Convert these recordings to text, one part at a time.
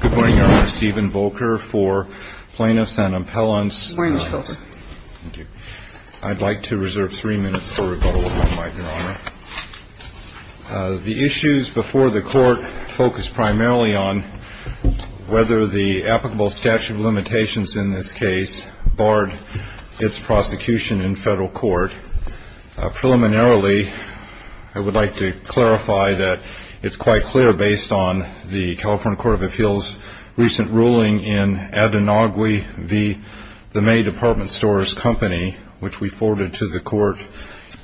Good morning, Your Honor. Stephen Volker for Plaintiffs and Appellants. Good morning, Mr. Volker. Thank you. I'd like to reserve three minutes for rebuttal, if I might, Your Honor. The issues before the Court focus primarily on whether the applicable statute of limitations in this case barred its prosecution in federal court. Preliminarily, I would like to clarify that it's quite clear, based on the California Court of Appeals' recent ruling in Ad Inaugui v. the May Department Stores Company, which we forwarded to the Court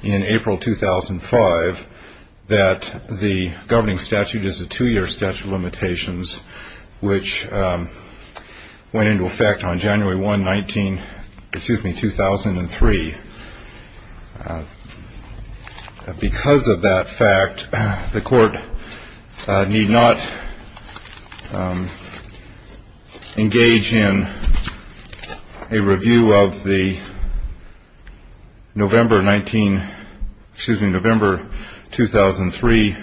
in April 2005, that the governing statute is a two-year statute of limitations, which went into effect on January 1, 2003. Because of that fact, the Court need not engage in a review of the November 19, excuse me, November 2003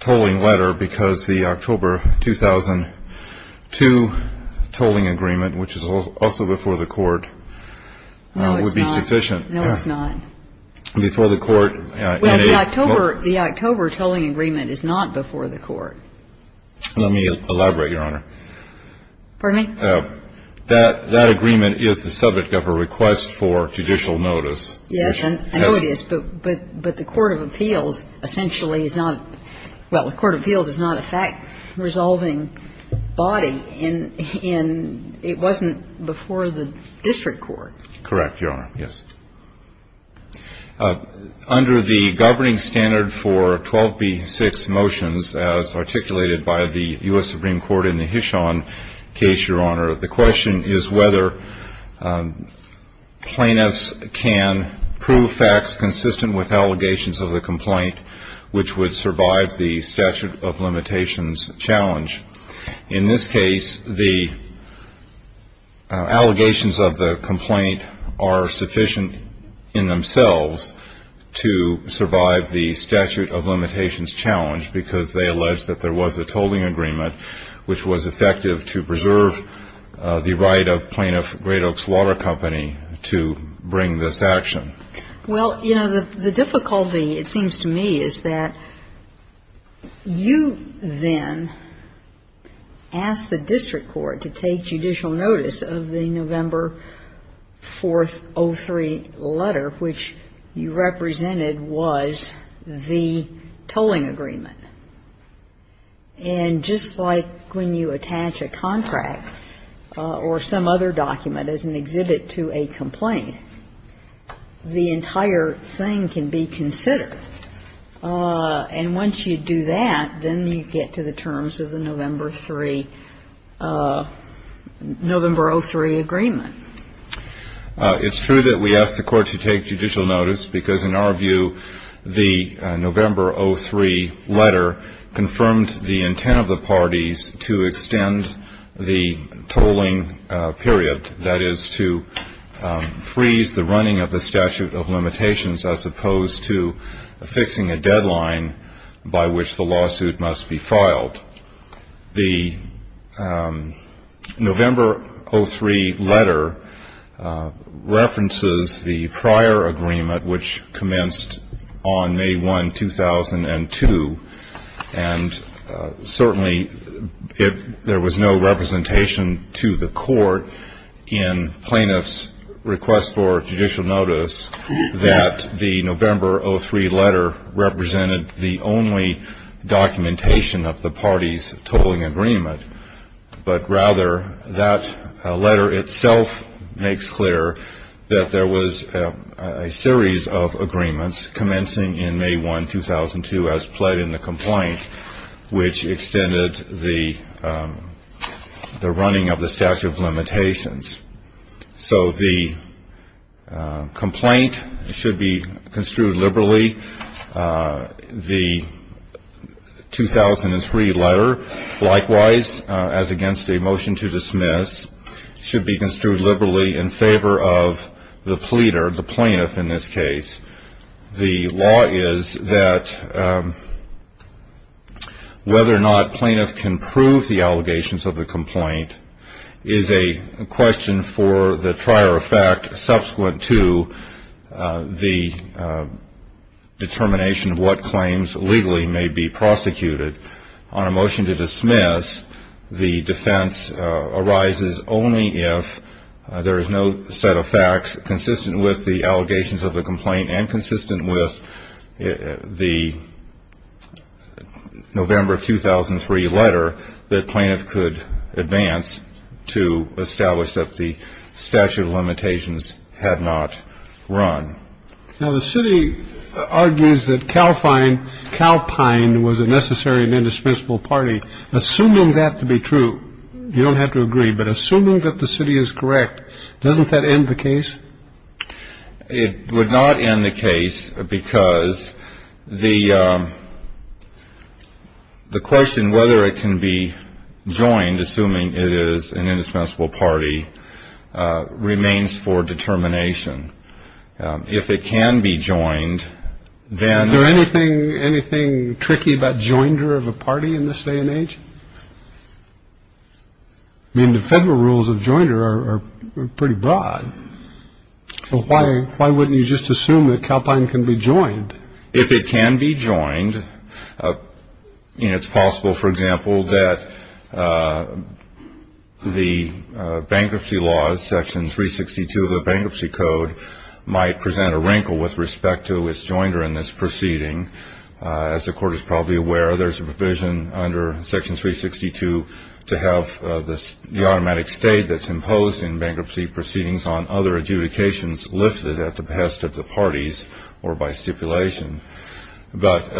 tolling letter, because the October 2002 tolling agreement, which is also before the Court, would be sufficient. No, it's not. No, it's not. Before the Court in a – Well, the October tolling agreement is not before the Court. Let me elaborate, Your Honor. Pardon me? That agreement is the subject of a request for judicial notice. Yes, I know it is, but the Court of Appeals essentially is not – well, the Court of Appeals is not a fact-resolving body. And it wasn't before the district court. Correct, Your Honor. Yes. Under the governing standard for 12b-6 motions, as articulated by the U.S. Supreme Court in the Hishon case, Your Honor, the question is whether plaintiffs can prove facts consistent with allegations of the complaint, which would survive the statute of limitations challenge. In this case, the allegations of the complaint are sufficient in themselves to survive the statute of limitations challenge, because they allege that there was a tolling agreement, which was effective to preserve the right of plaintiff Great Oaks Water Company to bring this action. Okay. Well, you know, the difficulty, it seems to me, is that you then ask the district court to take judicial notice of the November 4th, 03 letter, which you represented was the tolling agreement. And just like when you attach a contract or some other document as an exhibit to a complaint, the entire thing can be considered. And once you do that, then you get to the terms of the November 3, November 03 agreement. It's true that we asked the court to take judicial notice because, in our view, the November 03 letter confirmed the intent of the parties to extend the tolling period, that is, to freeze the running of the statute of limitations, as opposed to fixing a deadline by which the lawsuit must be filed. The November 03 letter references the prior agreement, which commenced on May 1, 2002. And certainly there was no representation to the court in plaintiff's request for judicial notice that the November 03 letter represented the only documentation of the parties' tolling agreement. But rather, that letter itself makes clear that there was a series of agreements commencing in May 1, 2002, as pled in the complaint, which extended the running of the statute of limitations. So the complaint should be construed liberally. The 2003 letter, likewise, as against a motion to dismiss, should be construed liberally in favor of the pleader, the plaintiff, in this case. The law is that whether or not plaintiff can prove the allegations of the complaint is a question for the trier of fact subsequent to the determination of what claims legally may be prosecuted. On a motion to dismiss, the defense arises only if there is no set of facts consistent with the allegations of the complaint and consistent with the November 2003 letter that plaintiff could advance to establish that the statute of limitations had not run. Now, the city argues that Calpine was a necessary and indispensable party. Assuming that to be true, you don't have to agree, but assuming that the city is correct, doesn't that end the case? It would not end the case because the question whether it can be joined, assuming it is an indispensable party, remains for determination. If it can be joined, then – Is there anything tricky about joinder of a party in this day and age? I mean, the federal rules of joinder are pretty broad. Why wouldn't you just assume that Calpine can be joined? If it can be joined, it's possible, for example, that the bankruptcy laws, Section 362 of the Bankruptcy Code, might present a wrinkle with respect to its joinder in this proceeding. As the Court is probably aware, there's a provision under Section 362 to have the automatic state that's imposed in bankruptcy proceedings on other adjudications lifted at the behest of the parties or by stipulation. But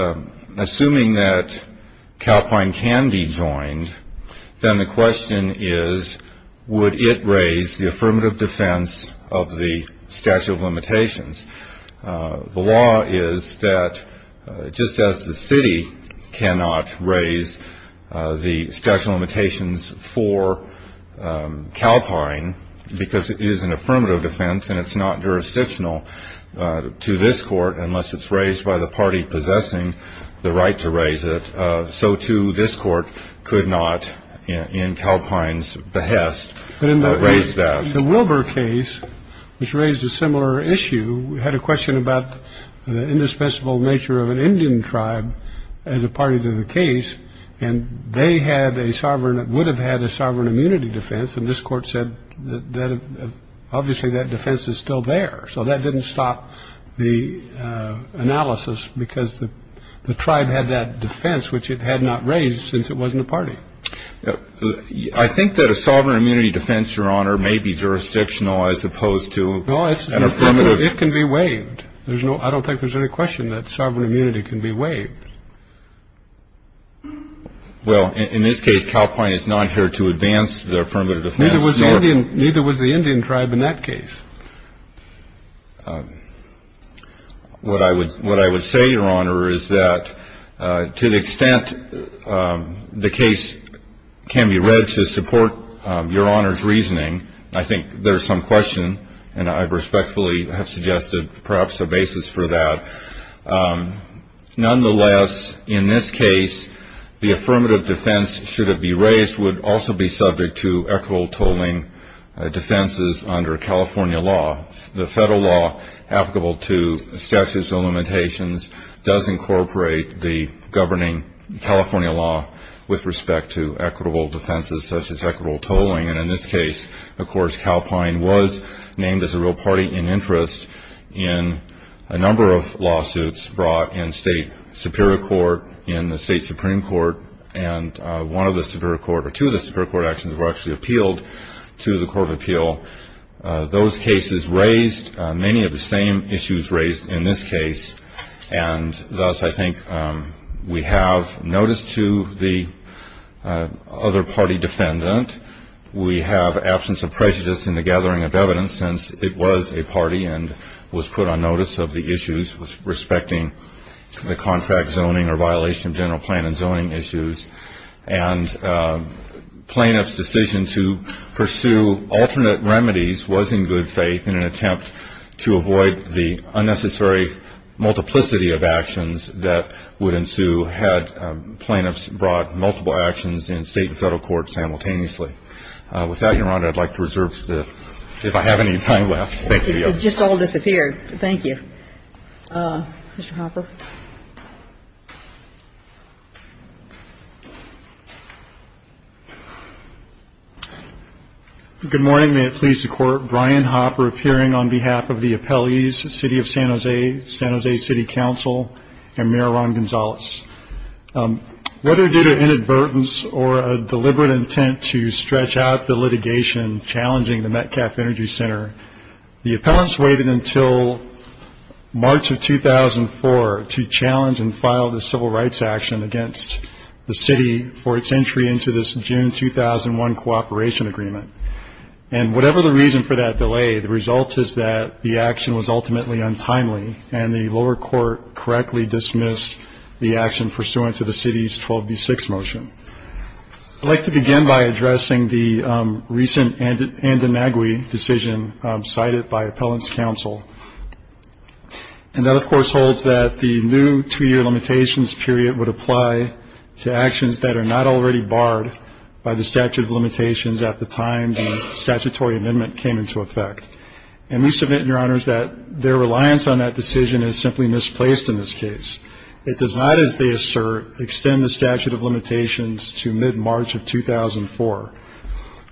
assuming that Calpine can be joined, then the question is, would it raise the affirmative defense of the statute of limitations? The law is that just as the city cannot raise the statute of limitations for Calpine because it is an affirmative defense and it's not jurisdictional to this Court unless it's raised by the party possessing the right to raise it, so, too, this Court could not, in Calpine's behest, raise that. The Wilbur case, which raised a similar issue, had a question about the indispensable nature of an Indian tribe as a party to the case, and they had a sovereign that would have had a sovereign immunity defense, and this Court said that obviously that defense is still there. So that didn't stop the analysis because the tribe had that defense, which it had not raised since it wasn't a party. I think that a sovereign immunity defense, Your Honor, may be jurisdictional as opposed to an affirmative. It can be waived. I don't think there's any question that sovereign immunity can be waived. Well, in this case, Calpine is not here to advance the affirmative defense. Neither was the Indian tribe in that case. What I would say, Your Honor, is that to the extent the case can be read to support Your Honor's reasoning, I think there's some question, and I respectfully have suggested perhaps a basis for that. Nonetheless, in this case, the affirmative defense, should it be raised, which would also be subject to equitable tolling defenses under California law. The federal law applicable to statutes and limitations does incorporate the governing California law with respect to equitable defenses such as equitable tolling, and in this case, of course, Calpine was named as a real party in interest in a number of lawsuits brought in state superior court, in the state supreme court, and one of the superior court, or two of the superior court actions were actually appealed to the court of appeal. Those cases raised many of the same issues raised in this case, and thus I think we have notice to the other party defendant. We have absence of prejudice in the gathering of evidence since it was a party and was put on notice of the issues respecting the contract zoning or violation of general plan and zoning issues, and plaintiff's decision to pursue alternate remedies was in good faith in an attempt to avoid the unnecessary multiplicity of actions that would ensue had plaintiffs brought multiple actions in state and federal courts simultaneously. With that, Your Honor, I'd like to reserve if I have any time left. Thank you. It just all disappeared. Thank you. Mr. Hopper. Good morning. May it please the Court, Brian Hopper appearing on behalf of the appellees, City of San Jose, San Jose City Council, and Mayor Ron Gonzalez. Whether due to inadvertence or a deliberate intent to stretch out the litigation challenging the Metcalf Energy Center, the appellants waited until March of 2004 to challenge and file the civil rights action against the city for its entry into this June 2001 cooperation agreement. And whatever the reason for that delay, the result is that the action was ultimately untimely, and the lower court correctly dismissed the action pursuant to the city's 12B6 motion. I'd like to begin by addressing the recent Andanagui decision cited by appellants' counsel. And that, of course, holds that the new two-year limitations period would apply to actions that are not already barred by the statute of limitations at the time the statutory amendment came into effect. And we submit, Your Honors, that their reliance on that decision is simply misplaced in this case. It does not, as they assert, extend the statute of limitations to mid-March of 2004.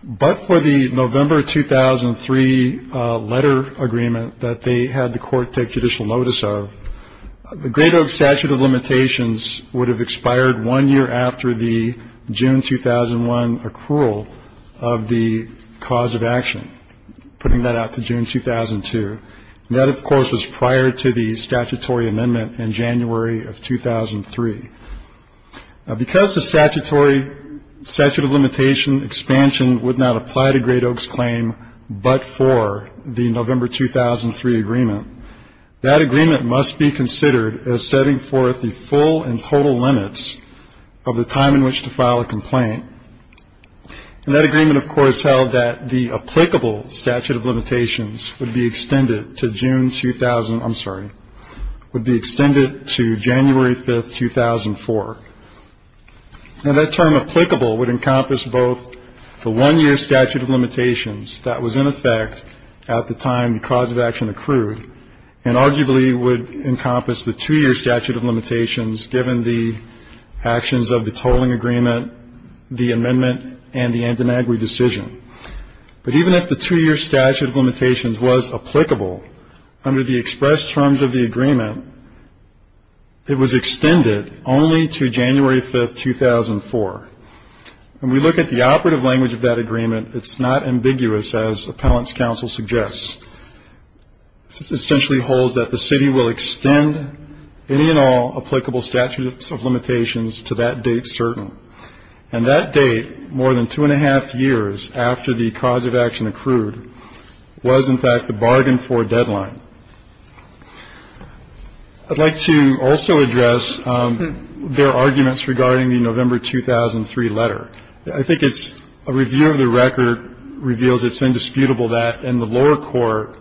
But for the November 2003 letter agreement that they had the court take judicial notice of, the greater statute of limitations would have expired one year after the June 2001 accrual of the cause of action. Putting that out to June 2002. And that, of course, was prior to the statutory amendment in January of 2003. Because the statutory statute of limitation expansion would not apply to Great Oaks' claim but for the November 2003 agreement, that agreement must be considered as setting forth the full and total limits of the time in which to file a complaint. And that agreement, of course, held that the applicable statute of limitations would be extended to June 2000 I'm sorry, would be extended to January 5th, 2004. And that term applicable would encompass both the one-year statute of limitations that was in effect at the time the cause of action accrued and arguably would encompass the two-year statute of limitations given the actions of the tolling agreement, the amendment, and the antinagri decision. But even if the two-year statute of limitations was applicable under the express terms of the agreement, it was extended only to January 5th, 2004. When we look at the operative language of that agreement, it's not ambiguous as appellant's counsel suggests. It essentially holds that the city will extend any and all applicable statutes of limitations to that date certain. And that date, more than two and a half years after the cause of action accrued, was in fact the bargain for deadline. I'd like to also address their arguments regarding the November 2003 letter. I think it's a review of the record reveals it's indisputable that in the lower court,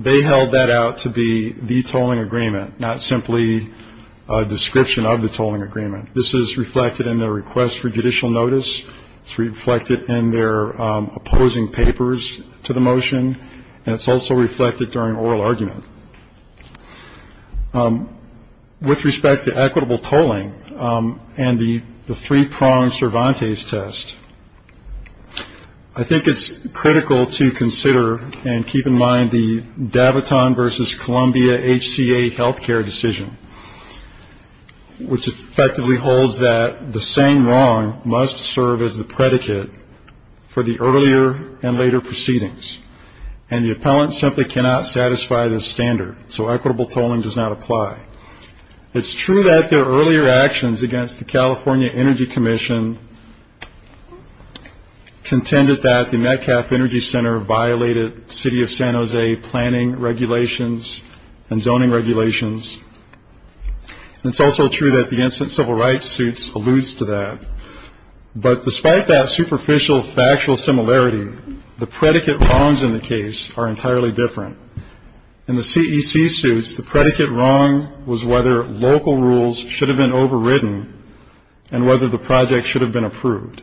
they held that out to be the tolling agreement, not simply a description of the tolling agreement. This is reflected in their request for judicial notice. It's reflected in their opposing papers to the motion. And it's also reflected during oral argument. With respect to equitable tolling and the three-pronged Cervantes test, I think it's critical to consider and keep in mind the Daviton versus Columbia HCA health care decision, which effectively holds that the same wrong must serve as the predicate for the earlier and later proceedings. And the appellant simply cannot satisfy this standard. So equitable tolling does not apply. It's true that their earlier actions against the California Energy Commission contended that the Metcalf Energy Center violated city of San Jose planning regulations and zoning regulations. It's also true that the incident civil rights suits alludes to that. But despite that superficial factual similarity, the predicate wrongs in the case are entirely different. In the CEC suits, the predicate wrong was whether local rules should have been overridden and whether the project should have been approved.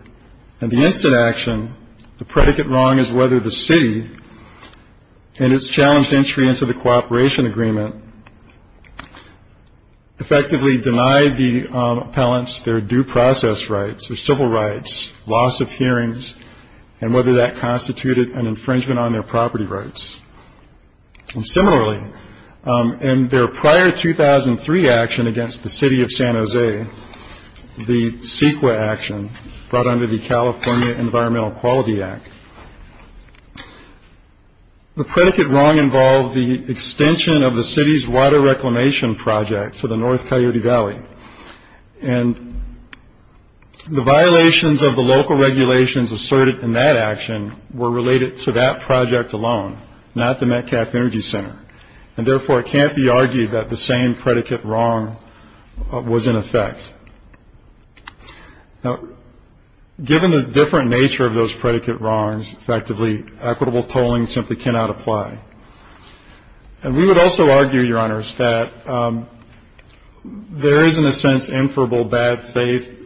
In the instant action, the predicate wrong is whether the city and its challenged entry into the cooperation agreement effectively denied the appellants their due process rights or civil rights, loss of hearings, and whether that constituted an infringement on their property rights. Similarly, in their prior 2003 action against the city of San Jose, the CEQA action brought under the California Environmental Quality Act, the predicate wrong involved the extension of the city's water reclamation project to the North Coyote Valley. And the violations of the local regulations asserted in that action were related to that project alone, not the Metcalf Energy Center. And therefore, it can't be argued that the same predicate wrong was in effect. Now, given the different nature of those predicate wrongs, effectively, equitable tolling simply cannot apply. And we would also argue, Your Honors, that there is, in a sense, inferable bad faith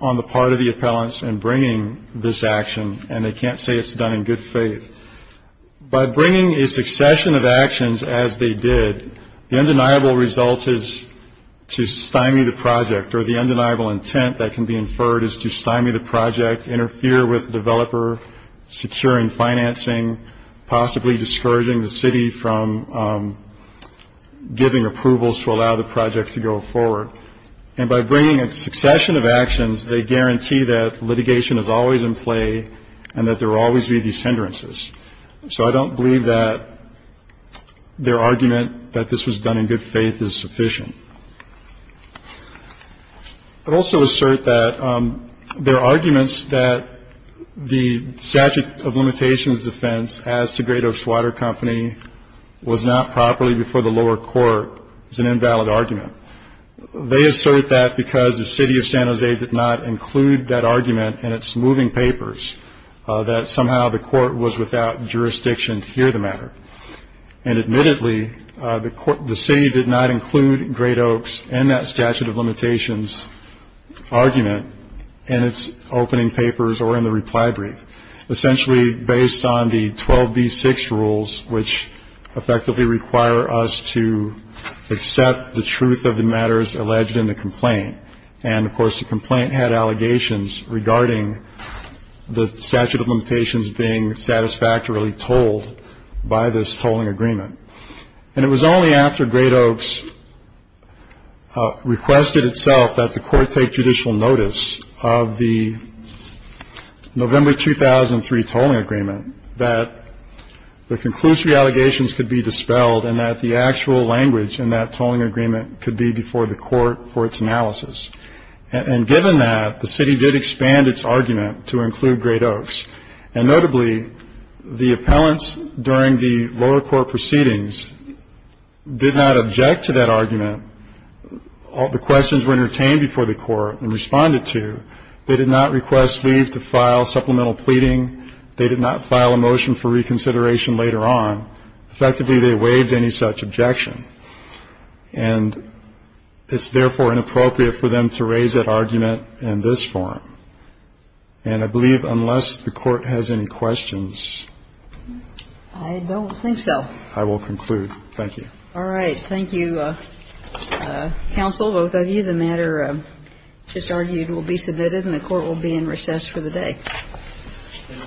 on the part of the appellants in bringing this action, and they can't say it's done in good faith. By bringing a succession of actions as they did, the undeniable result is to stymie the project, or the undeniable intent that can be inferred is to stymie the project, interfere with the developer, secure in financing, possibly discouraging the city from giving approvals to allow the project to go forward. And by bringing a succession of actions, they guarantee that litigation is always in play and that there will always be these hindrances. So I don't believe that their argument that this was done in good faith is sufficient. I'd also assert that their arguments that the statute of limitations defense as to Great Oaks Water Company was not properly before the lower court is an invalid argument. They assert that because the city of San Jose did not include that argument in its moving papers, that somehow the court was without jurisdiction to hear the matter. And admittedly, the city did not include Great Oaks and that statute of limitations argument in its opening papers or in the reply brief, essentially based on the 12B6 rules, which effectively require us to accept the truth of the matters alleged in the complaint. And, of course, the complaint had allegations regarding the statute of limitations being satisfactorily told by this tolling agreement. And it was only after Great Oaks requested itself that the court take judicial notice of the November 2003 tolling agreement that the conclusive allegations could be dispelled and that the actual language in that tolling agreement could be before the court for its analysis. And given that, the city did expand its argument to include Great Oaks. And notably, the appellants during the lower court proceedings did not object to that argument. The questions were entertained before the court and responded to. They did not request leave to file supplemental pleading. They did not file a motion for reconsideration later on. Effectively, they waived any such objection. And it's, therefore, inappropriate for them to raise that argument in this forum. And I believe unless the court has any questions. I don't think so. I will conclude. Thank you. All right. Thank you, counsel, both of you. The matter just argued will be submitted and the court will be in recess for the day.